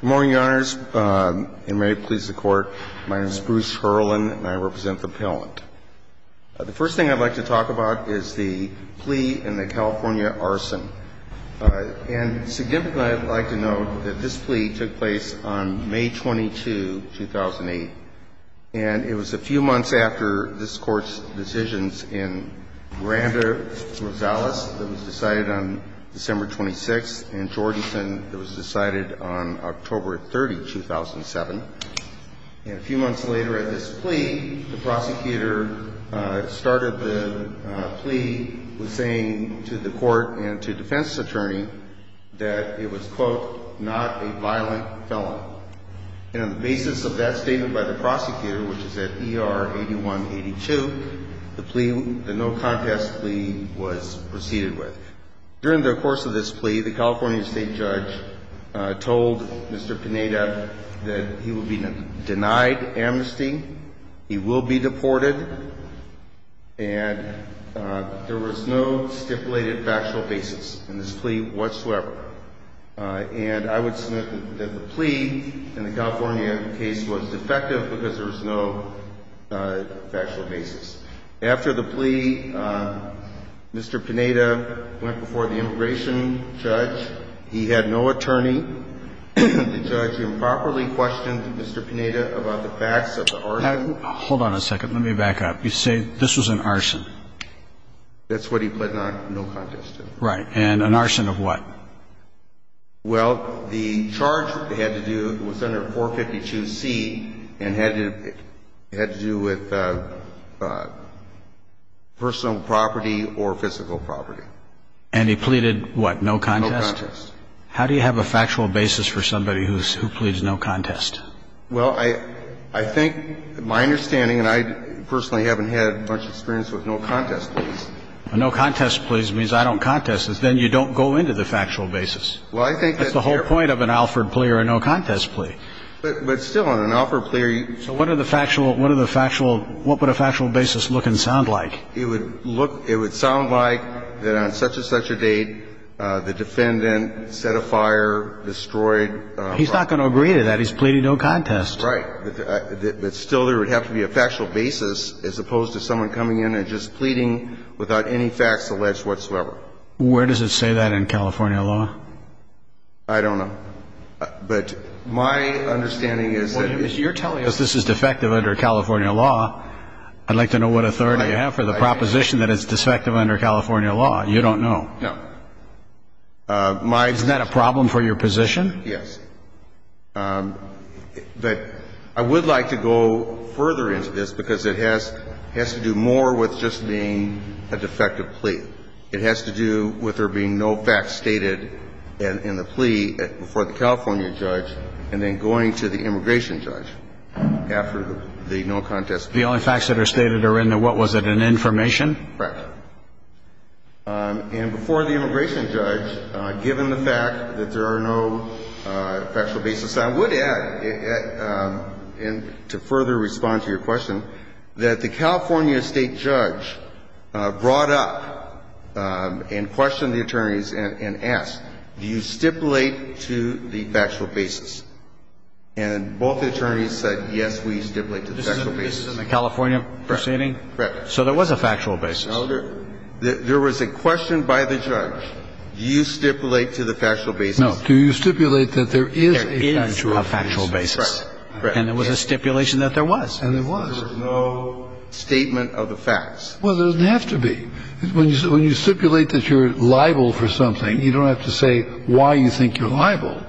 Good morning, Your Honors, and may it please the Court, my name is Bruce Herlin and I represent the appellant. The first thing I'd like to talk about is the plea in the California arson. And significantly, I'd like to note that this plea took place on May 22, 2008. And it was a few months after this Court's decisions in Miranda-Rosales that was decided on December 26, and Jordison that was decided on October 30, 2007. And a few months later at this plea, the prosecutor started the plea with saying to the Court and to defense attorney that it was, quote, not a violent felon. And on the basis of that statement by the prosecutor, which is at ER 8182, the plea, the no contest plea was proceeded with. During the course of this plea, the California state judge told Mr. Pineda that he would be denied amnesty, he will be deported, and there was no stipulated factual basis in this plea whatsoever. And I would submit that the plea in the California case was defective because there was no factual basis. After the plea, Mr. Pineda went before the immigration judge. He had no attorney. The judge improperly questioned Mr. Pineda about the facts of the arson. Hold on a second. Let me back up. You say this was an arson. That's what he pled not no contest to. Right. And an arson of what? Well, the charge had to do with Senator 452C and had to do with personal property or physical property. And he pleaded what, no contest? No contest. How do you have a factual basis for somebody who pleads no contest? Well, I think my understanding, and I personally haven't had much experience with no contest pleas. A no contest plea means I don't contest it. Then you don't go into the factual basis. Well, I think that's fair. That's the whole point of an Alford plea or a no contest plea. But still, on an Alford plea, you can't. So what would a factual basis look and sound like? It would sound like that on such-and-such a date, the defendant set a fire, destroyed a property. He's not going to agree to that. He's pleading no contest. Right. But still, there would have to be a factual basis as opposed to someone coming in and just pleading without any facts alleged whatsoever. Where does it say that in California law? I don't know. But my understanding is that it is. Well, you're telling us this is defective under California law. I'd like to know what authority you have for the proposition that it's defective under California law. You don't know. No. Isn't that a problem for your position? Yes. But I would like to go further into this because it has to do more with just being a defective plea. It has to do with there being no facts stated in the plea before the California judge and then going to the immigration judge after the no contest plea. The only facts that are stated are in the what was it, an information? Right. And before the immigration judge, given the fact that there are no factual basis, I would add, and to further respond to your question, that the California state judge brought up and questioned the attorneys and asked, do you stipulate to the factual basis? And both attorneys said, yes, we stipulate to the factual basis. This is in the California proceeding? Correct. Correct. So there was a factual basis. No. There was a question by the judge. Do you stipulate to the factual basis? No. Do you stipulate that there is a factual basis? There is a factual basis. Correct. And there was a stipulation that there was. And there was. There was no statement of the facts. Well, there doesn't have to be. When you stipulate that you're liable for something, you don't have to say why you think you're liable.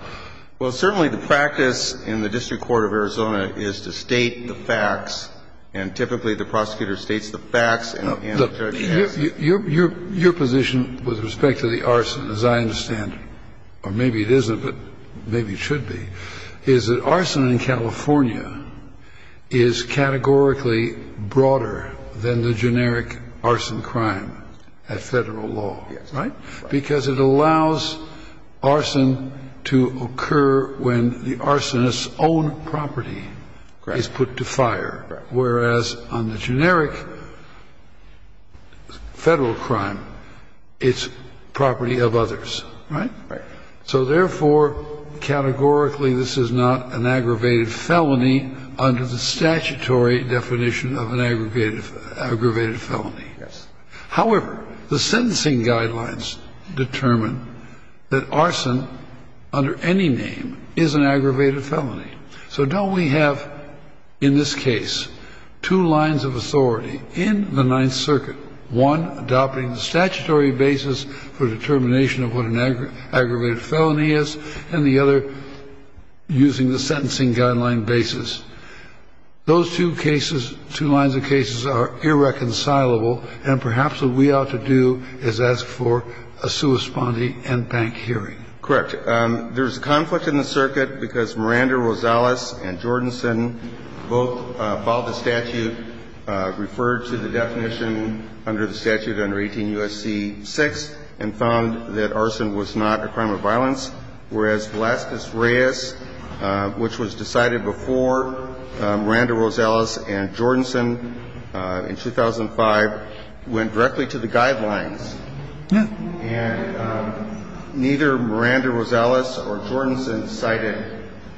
Well, certainly the practice in the District Court of Arizona is to state the facts, and typically the prosecutor states the facts and the judge asks. Your position with respect to the arson, as I understand, or maybe it isn't, but maybe it should be, is that arson in California is categorically broader than the generic arson crime at Federal law. Yes. Right? Because it allows arson to occur when the arsonist's own property is put to fire. Right. Whereas on the generic Federal crime, it's property of others. Right? Right. So therefore, categorically, this is not an aggravated felony under the statutory definition of an aggravated felony. Yes. However, the sentencing guidelines determine that arson under any name is an aggravated felony. So don't we have in this case two lines of authority in the Ninth Circuit, one adopting the statutory basis for determination of what an aggravated felony is, and the other using the sentencing guideline basis? Those two cases, two lines of cases, are irreconcilable, and perhaps what we ought to do is ask for a sui sponte and bank hearing. Correct. There's a conflict in the circuit because Miranda-Rosales and Jordanson both followed the statute, referred to the definition under the statute under 18 U.S.C. 6, and found that arson was not a crime of violence, whereas Velazquez-Reyes, which was decided before Miranda-Rosales and Jordanson in 2005, went directly to the guidelines. Yes. And neither Miranda-Rosales or Jordanson cited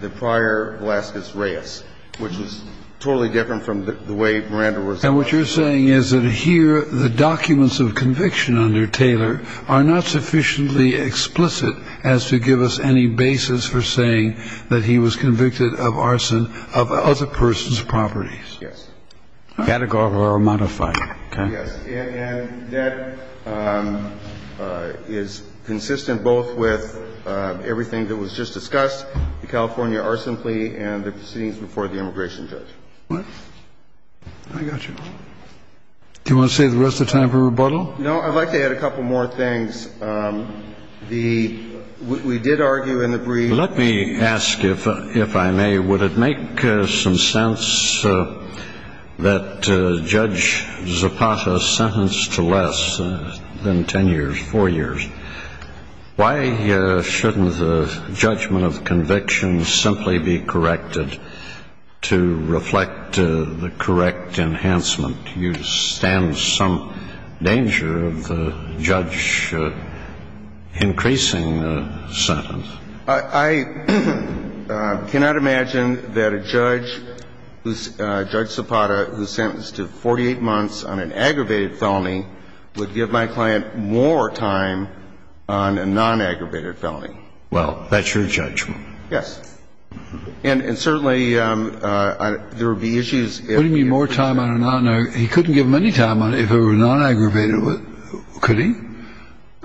the prior Velazquez-Reyes, which was totally different from the way Miranda-Rosales did. And what you're saying is that here the documents of conviction under Taylor are not sufficiently explicit as to give us any basis for saying that he was convicted of arson of the other person's properties. Yes. Categorical or modified, okay? Yes. And that is consistent both with everything that was just discussed, the California arson plea, and the proceedings before the immigration judge. What? I got you. Do you want to save the rest of the time for rebuttal? No, I'd like to add a couple more things. The – we did argue in the brief. Let me ask, if I may, would it make some sense that Judge Zapata is sentenced to less than ten years, four years? Why shouldn't the judgment of conviction simply be corrected to reflect the correct enhancement? You stand some danger of the judge increasing the sentence. I cannot imagine that a judge who's – Judge Zapata who's sentenced to 48 months on an aggravated felony would give my client more time on a non-aggravated felony. Well, that's your judgment. Yes. And certainly there would be issues if – What do you mean more time on a non-aggravated? He couldn't give him any time if it were non-aggravated, could he?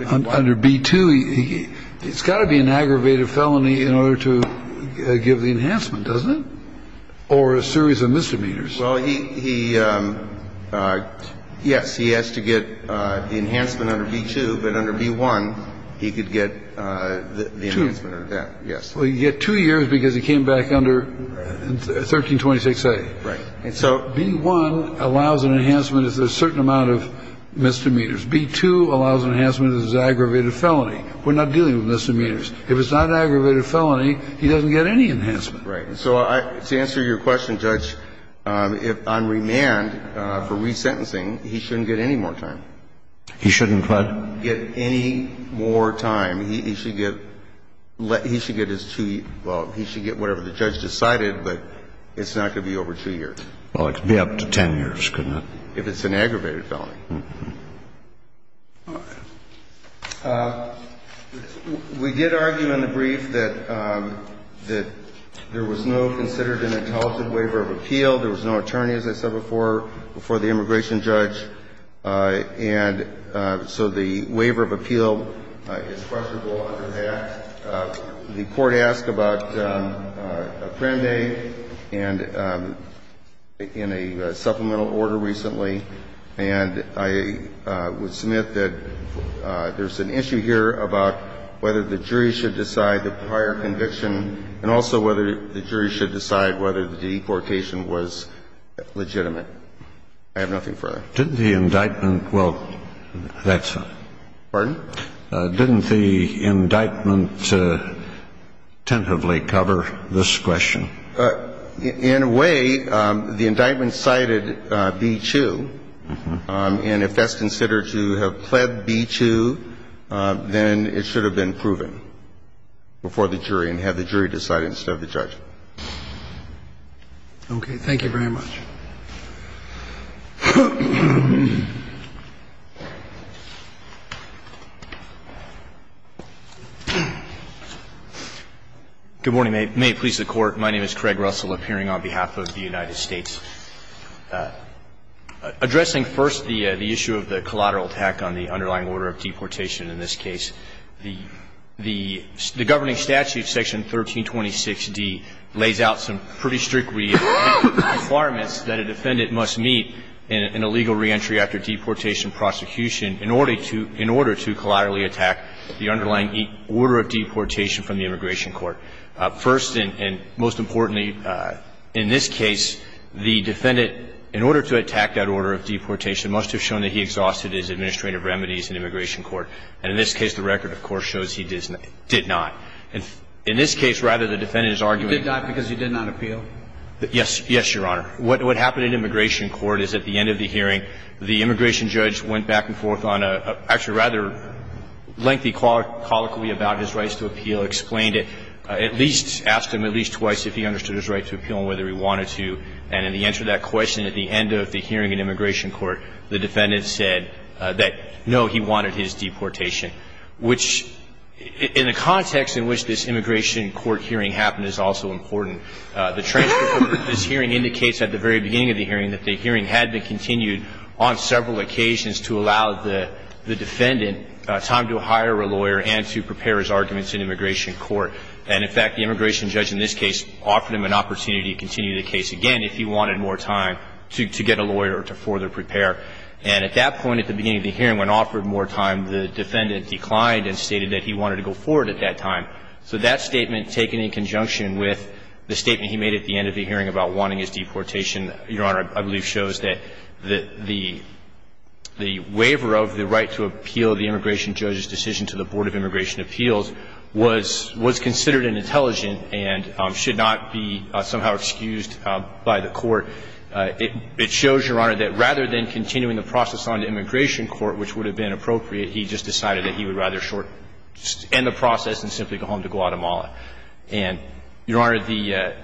Under B-2, he – it's got to be an aggravated felony in order to give the enhancement, doesn't it? Or a series of misdemeanors. Well, he – yes, he has to get the enhancement under B-2. But under B-1, he could get the enhancement. Two. Yes. Well, you get two years because he came back under 1326A. Right. And so B-1 allows an enhancement of a certain amount of misdemeanors. B-2 allows an enhancement of his aggravated felony. We're not dealing with misdemeanors. If it's not an aggravated felony, he doesn't get any enhancement. Right. So to answer your question, Judge, if I'm remanded for resentencing, he shouldn't get any more time. He shouldn't what? Get any more time. He should get – he should get his two – well, he should get whatever the judge decided, but it's not going to be over two years. Well, it could be up to 10 years, couldn't it? If it's an aggravated felony. All right. We did argue in the brief that there was no considered an intelligent waiver of appeal. There was no attorney, as I said before, before the immigration judge. And so the waiver of appeal is questionable under that. The Court asked about Apprendi and in a supplemental order recently, and I would submit that there's an issue here about whether the jury should decide the prior conviction and also whether the jury should decide whether the deportation was legitimate. I have nothing further. Didn't the indictment – well, that's fine. Pardon? Didn't the indictment tentatively cover this question? In a way, the indictment cited B-2, and if that's considered to have pled B-2, then it should have been proven before the jury and had the jury decide instead of the judge. Okay. Thank you very much. Good morning. May it please the Court. My name is Craig Russell, appearing on behalf of the United States. Addressing first the issue of the collateral attack on the underlying order of deportation in this case, the governing statute, Section 1326d, lays out some pretty strict requirements that a defendant must meet in a legal reentry after deportation prosecution in order to collaterally attack the underlying order of deportation from the immigration court. First and most importantly in this case, the defendant, in order to attack that order of deportation, must have shown that he exhausted his administrative remedies in immigration court. And in this case, the record, of course, shows he did not. In this case, rather, the defendant is arguing – He did not because he did not appeal? Yes, Your Honor. What happened in immigration court is at the end of the hearing, the immigration judge went back and forth on a – actually, a rather lengthy colloquy about his rights to appeal, explained it, at least asked him at least twice if he understood his right to appeal and whether he wanted to. And in the answer to that question, at the end of the hearing in immigration court, the defendant said that, no, he wanted his deportation, which, in a context in which this immigration court hearing happened, is also important. The transcript of this hearing indicates at the very beginning of the hearing that the hearing had been continued on several occasions to allow the defendant time to hire a lawyer and to prepare his arguments in immigration court. And, in fact, the immigration judge in this case offered him an opportunity to continue the case again if he wanted more time to get a lawyer or to further prepare. And at that point at the beginning of the hearing, when offered more time, the defendant declined and stated that he wanted to go forward at that time. So that statement, taken in conjunction with the statement he made at the end of the hearing about wanting his deportation, Your Honor, I believe shows that the waiver of the right to appeal the immigration judge's decision to the Board of Immigration Appeals was considered inintelligent and should not be somehow excused by the court. It shows, Your Honor, that rather than continuing the process on to immigration court, which would have been appropriate, he just decided that he would rather end the process and simply go home to Guatemala. And, Your Honor, the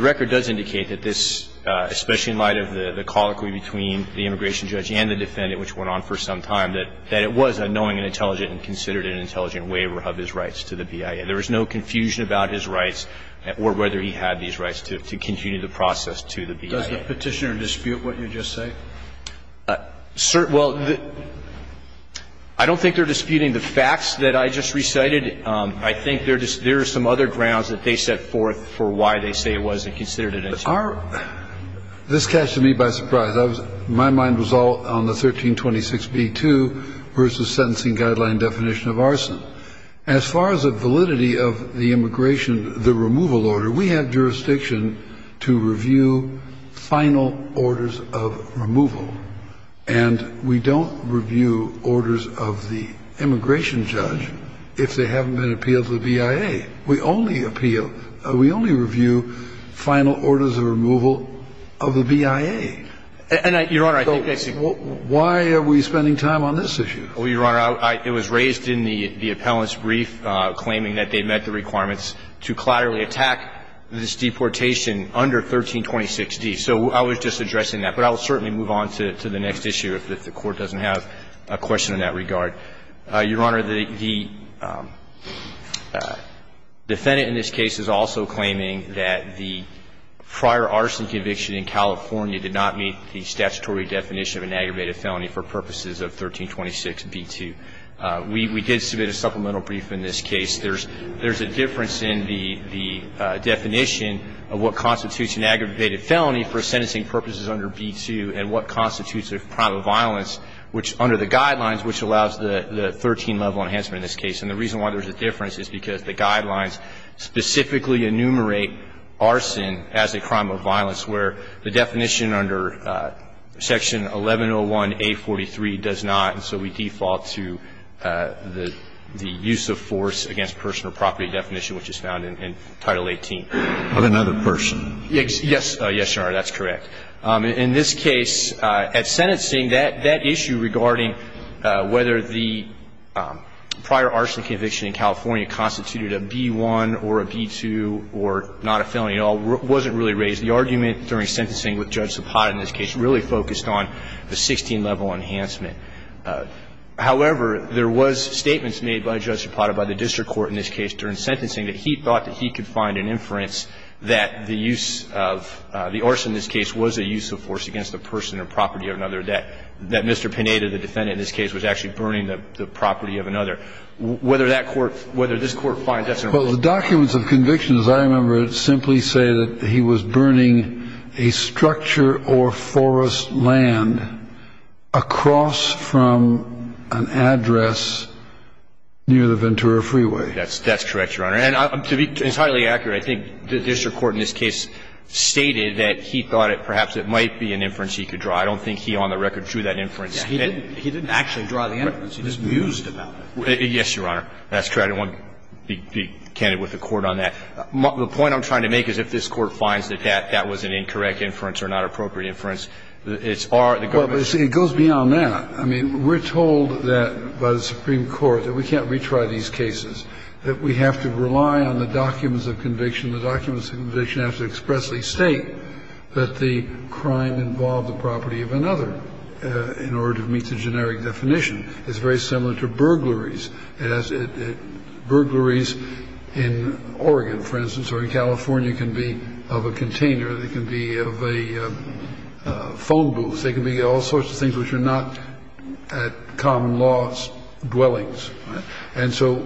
record does indicate that this, especially in light of the colloquy between the immigration judge and the defendant, which went on for some time, that it was a knowing and intelligent and considered an intelligent waiver of his rights to the BIA. There was no confusion about his rights or whether he had these rights to continue the process to the BIA. Does the Petitioner dispute what you just say? Well, I don't think they're disputing the facts that I just recited. I think there are some other grounds that they set forth for why they say it wasn't considered an intelligent waiver. This catches me by surprise. My mind was all on the 1326b-2 versus sentencing guideline definition of arson. As far as the validity of the immigration, the removal order, we have jurisdiction to review final orders of removal. And we don't review orders of the immigration judge if they haven't been appealed to the BIA. We only appeal, we only review final orders of removal of the BIA. And, Your Honor, I think I see. Why are we spending time on this issue? Well, Your Honor, it was raised in the appellant's brief, claiming that they met the statutory definition of an aggravated felony for purposes of 1326b-2. We did submit a supplemental brief in this case. There's a difference in the definition of an aggravated felony for purposes of 1326b-2. And the reason why there's a difference is because the guidelines specifically enumerate arson as a crime of violence, where the definition under Section 1101A43 does not. And so we default to the use of force against personal property definition, which is found in Title 18. So the definition in this case is a minor felony of another person. Yes, Your Honor, that's correct. In this case, at sentencing, that issue regarding whether the prior arson conviction in California constituted a B-1 or a B-2 or not a felony at all wasn't really raised. The argument during sentencing with Judge Zapata in this case really focused on the 16-level enhancement. However, there was statements made by Judge Zapata, by the district court in this case during sentencing, that he thought that he could find an inference that the use of the arson in this case was a use of force against the person or property of another, that Mr. Pineda, the defendant in this case, was actually burning the property of another. Whether that court, whether this Court finds that's an argument. But the documents of conviction, as I remember it, simply say that he was burning a structure or forest land across from an address near the Ventura Freeway. That's correct, Your Honor. And to be entirely accurate, I think the district court in this case stated that he thought perhaps it might be an inference he could draw. I don't think he, on the record, drew that inference. He didn't actually draw the inference. He just mused about it. Yes, Your Honor. That's correct. I don't want to be candid with the Court on that. The point I'm trying to make is if this Court finds that that was an incorrect inference or not appropriate inference, it's our, the government's. Well, but see, it goes beyond that. I mean, we're told that, by the Supreme Court, that we can't retry these cases, that we have to rely on the documents of conviction. The documents of conviction have to expressly state that the crime involved the property of another in order to meet the generic definition. It's very similar to burglaries. Burglaries in Oregon, for instance, or in California can be of a container. They can be of a phone booth. They can be all sorts of things which are not common law dwellings. And so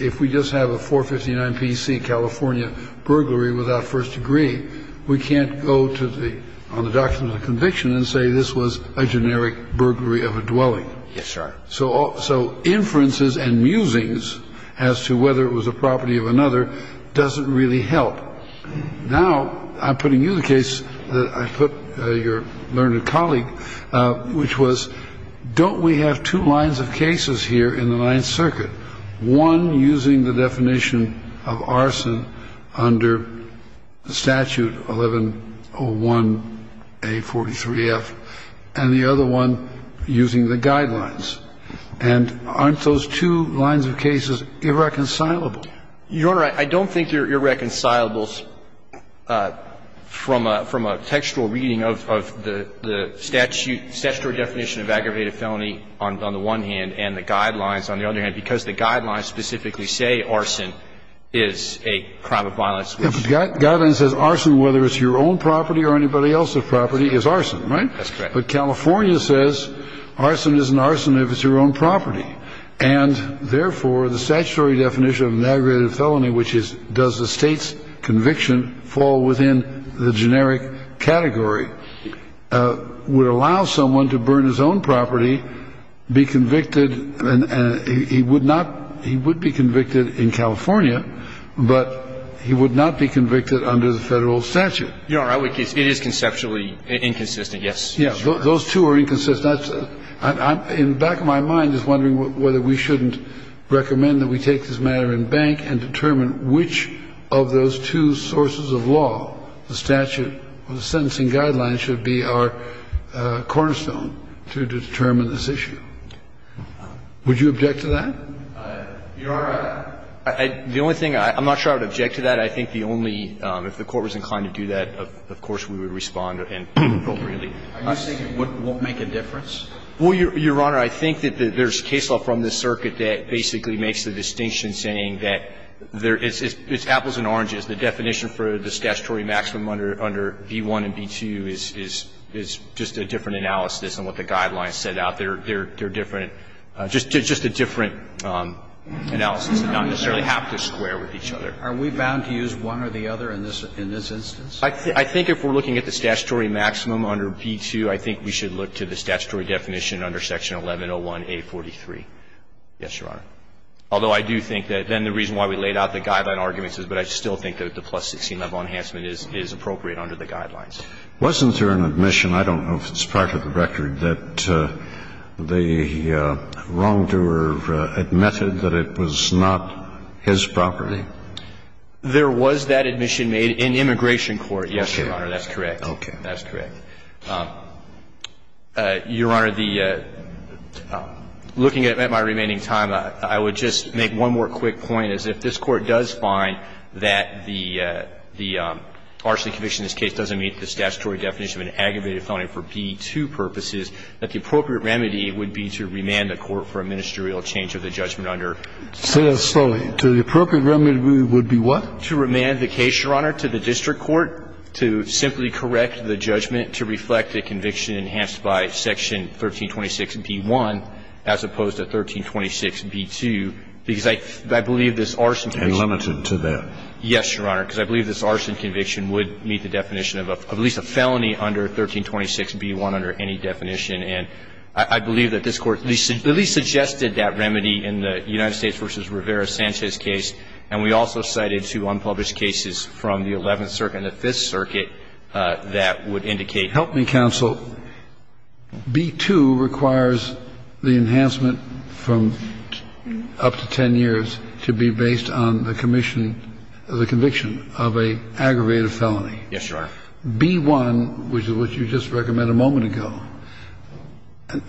if we just have a 459 P.C. California burglary without first degree, we can't go to the, on the documents of conviction and say this was a generic burglary of a dwelling. Yes, sir. So inferences and musings as to whether it was a property of another doesn't really help. Now, I'm putting you the case that I put your learned colleague, which was don't we have two lines of cases here in the Ninth Circuit, one using the definition of arson under the statute 1101A43F, and the other one using the guidelines and aren't those two lines of cases irreconcilable? Your Honor, I don't think they're irreconcilable from a textual reading of the statute definition of aggravated felony on the one hand and the guidelines on the other hand because the guidelines specifically say arson is a crime of violence. Guidelines says arson, whether it's your own property or anybody else's property, is arson, right? That's correct. But California says arson is an arson if it's your own property. And therefore, the statutory definition of an aggravated felony, which is does the State's conviction fall within the generic category, would allow someone to burn his own property, be convicted, and he would not, he would be convicted in California, but he would not be convicted under the Federal statute. Your Honor, I would, it is conceptually inconsistent, yes. Those two are inconsistent. In the back of my mind, just wondering whether we shouldn't recommend that we take this matter in bank and determine which of those two sources of law, the statute or the sentencing guidelines, should be our cornerstone to determine this issue. Would you object to that? Your Honor, the only thing, I'm not sure I would object to that. I think the only, if the Court was inclined to do that, of course, we would respond appropriately. Are you saying it won't make a difference? Well, Your Honor, I think that there's case law from the circuit that basically makes the distinction saying that there is, it's apples and oranges. The definition for the statutory maximum under V-1 and V-2 is just a different analysis on what the guidelines set out. They're different, just a different analysis. They don't necessarily have to square with each other. Are we bound to use one or the other in this instance? I think if we're looking at the statutory maximum under V-2, I think we should look to the statutory definition under section 1101A43. Yes, Your Honor. Although I do think that then the reason why we laid out the guideline arguments is, but I still think that the plus 16 level enhancement is appropriate under the guidelines. Wasn't there an admission, I don't know if it's part of the record, that the wrongdoer admitted that it was not his property? There was that admission made in immigration court, yes, Your Honor. That's correct. Okay. That's correct. Your Honor, the, looking at my remaining time, I would just make one more quick point, is if this Court does find that the, the arson conviction in this case doesn't meet the statutory definition of an aggravated felony for V-2 purposes, that the appropriate remedy would be to remand the Court for a ministerial change of the judgment under 1326B-1. Say that slowly. To the appropriate remedy would be what? To remand the case, Your Honor, to the district court, to simply correct the judgment to reflect the conviction enhanced by section 1326B-1 as opposed to 1326B-2, because I, I believe this arson conviction. And limited to that. Yes, Your Honor, because I believe this arson conviction would meet the definition of a, of at least a felony under 1326B-1 under any definition, and I, I believe that this Court at least, at least suggested that remedy in the United States v. Rivera-Sanchez case, and we also cited two unpublished cases from the Eleventh Circuit and the Fifth Circuit that would indicate. Help me, counsel. B-2 requires the enhancement from up to 10 years to be based on the commission of the conviction of an aggravated felony. Yes, Your Honor. But, Your Honor, B-1, which is what you just recommended a moment ago,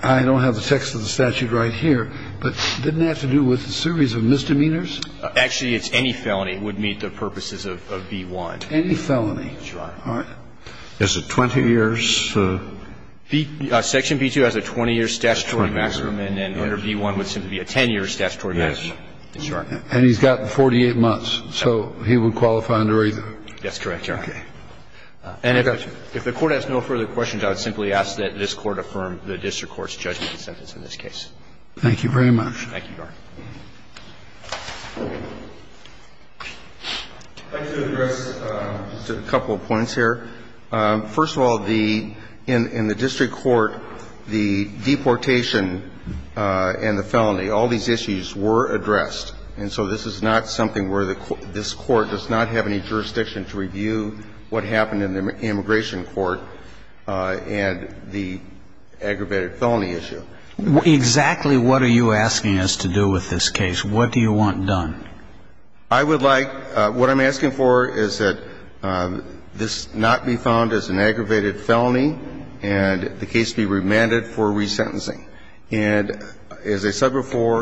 I don't have the text of the statute right here, but didn't it have to do with a series of misdemeanors? Actually, it's any felony would meet the purposes of, of B-1. Any felony. That's right. All right. Is it 20 years? Section B-2 has a 20-year statutory maximum, and under B-1 would simply be a 10-year statutory maximum. Yes, that's right. And he's got 48 months, so he would qualify under either. That's correct, Your Honor. Okay. And if the Court has no further questions, I would simply ask that this Court affirm the district court's judgment in this case. Thank you very much. Thank you, Your Honor. I'd like to address just a couple of points here. First of all, the – in the district court, the deportation and the felony, all these issues were addressed. And so this is not something where the – this Court does not have any jurisdiction to review what happened in the immigration court and the aggravated felony issue. Exactly what are you asking us to do with this case? What do you want done? I would like – what I'm asking for is that this not be found as an aggravated felony and the case be remanded for resentencing. And as I said before –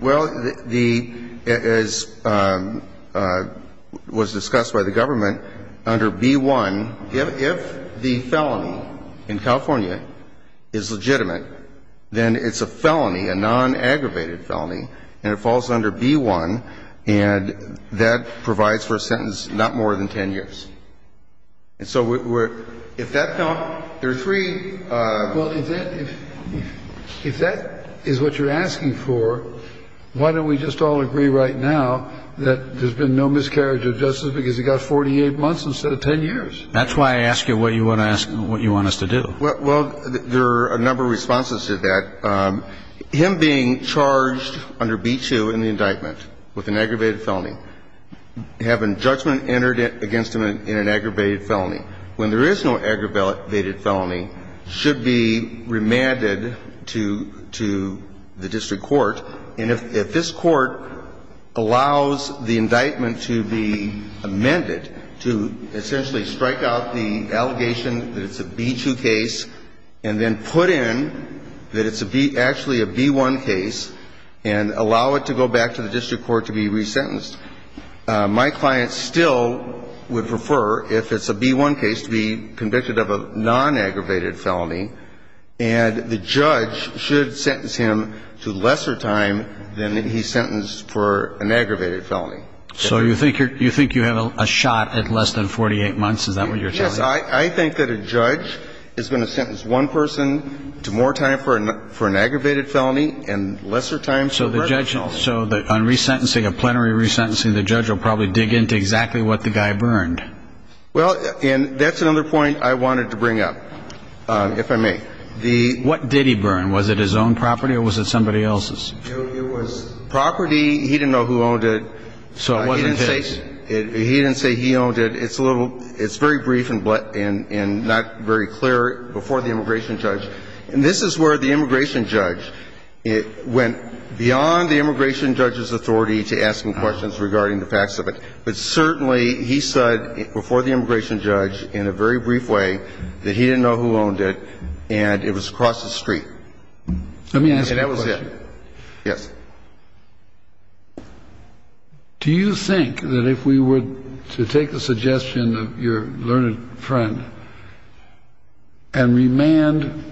Well, the – as was discussed by the government, under B-1, if the felony in California is legitimate, then it's a felony, a non-aggravated felony, and it falls under B-1, and that provides for a sentence not more than 10 years. And so we're – if that – there are three – Well, if that – if that is what you're asking for, why don't we just all agree right now that there's been no miscarriage of justice because he got 48 months instead of 10 years? That's why I ask you what you want to ask – what you want us to do. Well, there are a number of responses to that. Him being charged under B-2 in the indictment with an aggravated felony, having judgment entered against him in an aggravated felony, when there is no aggravated felony, should be remanded to – to the district court. And if – if this court allows the indictment to be amended to essentially strike out the allegation that it's a B-2 case and then put in that it's actually a B-1 case and allow it to go back to the district court to be resentenced, my client still would prefer, if it's a B-1 case, to be convicted of a non-aggravated felony, and the judge should sentence him to lesser time than he's sentenced for an aggravated felony. So you think you're – you think you have a shot at less than 48 months? Is that what you're telling me? Yes. I think that a judge is going to sentence one person to more time for an aggravated felony and lesser time for a residential. So the judge – so on resentencing, a plenary resentencing, the judge will probably dig into exactly what the guy burned. Well, and that's another point I wanted to bring up, if I may. What did he burn? Was it his own property or was it somebody else's? It was property. He didn't know who owned it. So it wasn't his. He didn't say he owned it. It's a little – it's very brief and not very clear before the immigration judge. And this is where the immigration judge went beyond the immigration judge's authority to ask him questions regarding the facts of it. But certainly he said before the immigration judge in a very brief way that he didn't know who owned it and it was across the street. Let me ask you a question. And that was it. Yes. Do you think that if we were to take the suggestion of your learned friend and remand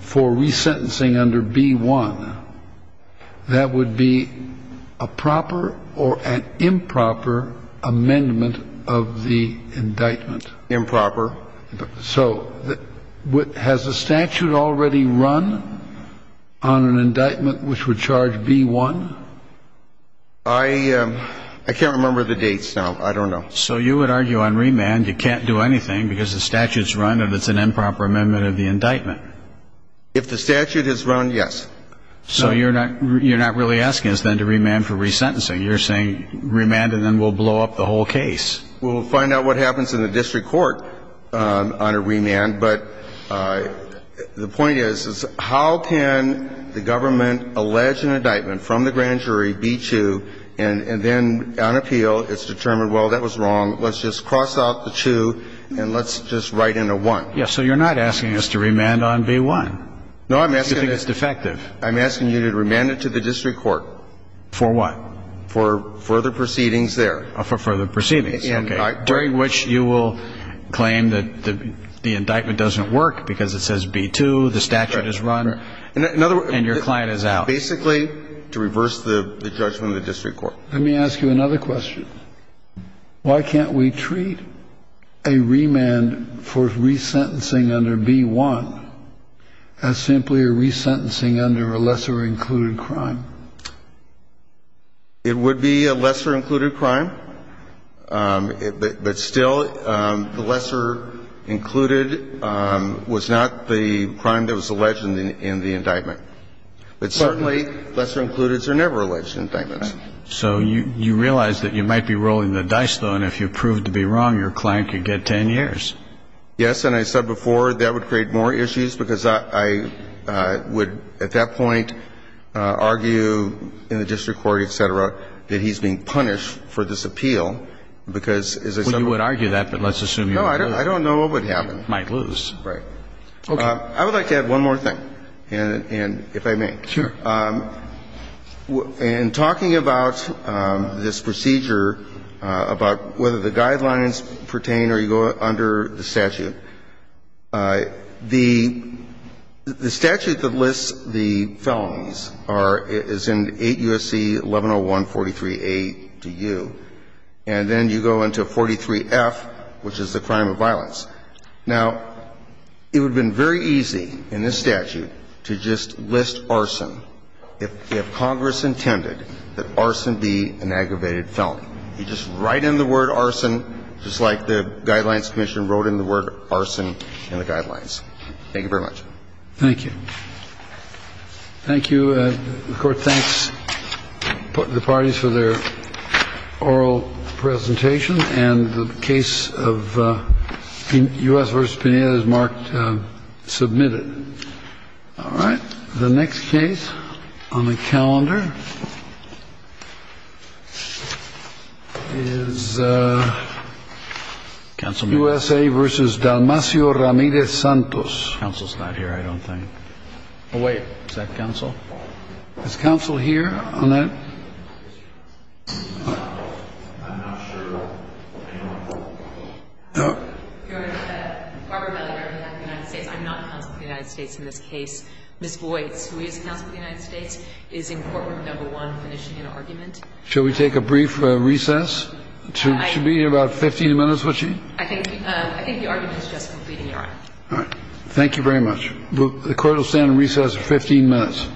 for resentencing under B-1, that would be a proper or an improper amendment of the indictment? Improper. So has the statute already run on an indictment which would charge B-1? I can't remember the dates now. I don't know. So you would argue on remand you can't do anything because the statute's run and it's an improper amendment of the indictment. If the statute has run, yes. So you're not really asking us then to remand for resentencing. You're saying remand and then we'll blow up the whole case. Well, we'll find out what happens in the district court on a remand. But the point is, how can the government allege an indictment from the grand jury, B-2, and then on appeal it's determined, well, that was wrong, let's just cross out the 2 and let's just write in a 1? Yes. So you're not asking us to remand on B-1. No, I'm asking you to remand it to the district court. For what? For further proceedings there. For further proceedings. Okay. During which you will claim that the indictment doesn't work because it says B-2, the statute is run, and your client is out. Basically to reverse the judgment of the district court. Let me ask you another question. Why can't we treat a remand for resentencing under B-1 as simply a resentencing under a lesser included crime? It would be a lesser included crime. But still, the lesser included was not the crime that was alleged in the indictment. But certainly lesser included are never alleged indictments. So you realize that you might be rolling the dice, though, and if you prove to be wrong your client could get 10 years. Yes. And I said before that would create more issues because I would at that point argue in the district court, et cetera, that he's being punished for this appeal because, as I said before. Well, you would argue that, but let's assume you might lose. No, I don't know what would happen. Might lose. Right. Okay. I would like to add one more thing, and if I may. Sure. In talking about this procedure, about whether the guidelines pertain or you go under the statute, the statute that lists the felonies are, is in 8 U.S.C. 1101.43a to U. And then you go into 43F, which is the crime of violence. Now, it would have been very easy in this statute to just list arson if Congress intended that arson be an aggravated felony. You just write in the word arson, just like the Guidelines Commission wrote in the word arson in the Guidelines. Thank you very much. Thank you. Thank you. The Court thanks the parties for their oral presentation, and the case of U.S. v. Pineda is marked submitted. All right. The next case on the calendar is U.S.A. v. Dalmacio Ramirez Santos. Counsel's not here, I don't think. Oh, wait. Is that counsel? Is counsel here on that? I'm not sure. I'm not counsel for the United States in this case. Ms. Boyce, who is counsel for the United States, is in Courtroom No. 1 finishing an argument. Shall we take a brief recess? It should be about 15 minutes, would she? I think the argument is just completing your argument. All right. Thank you very much. The Court will stand in recess for 15 minutes.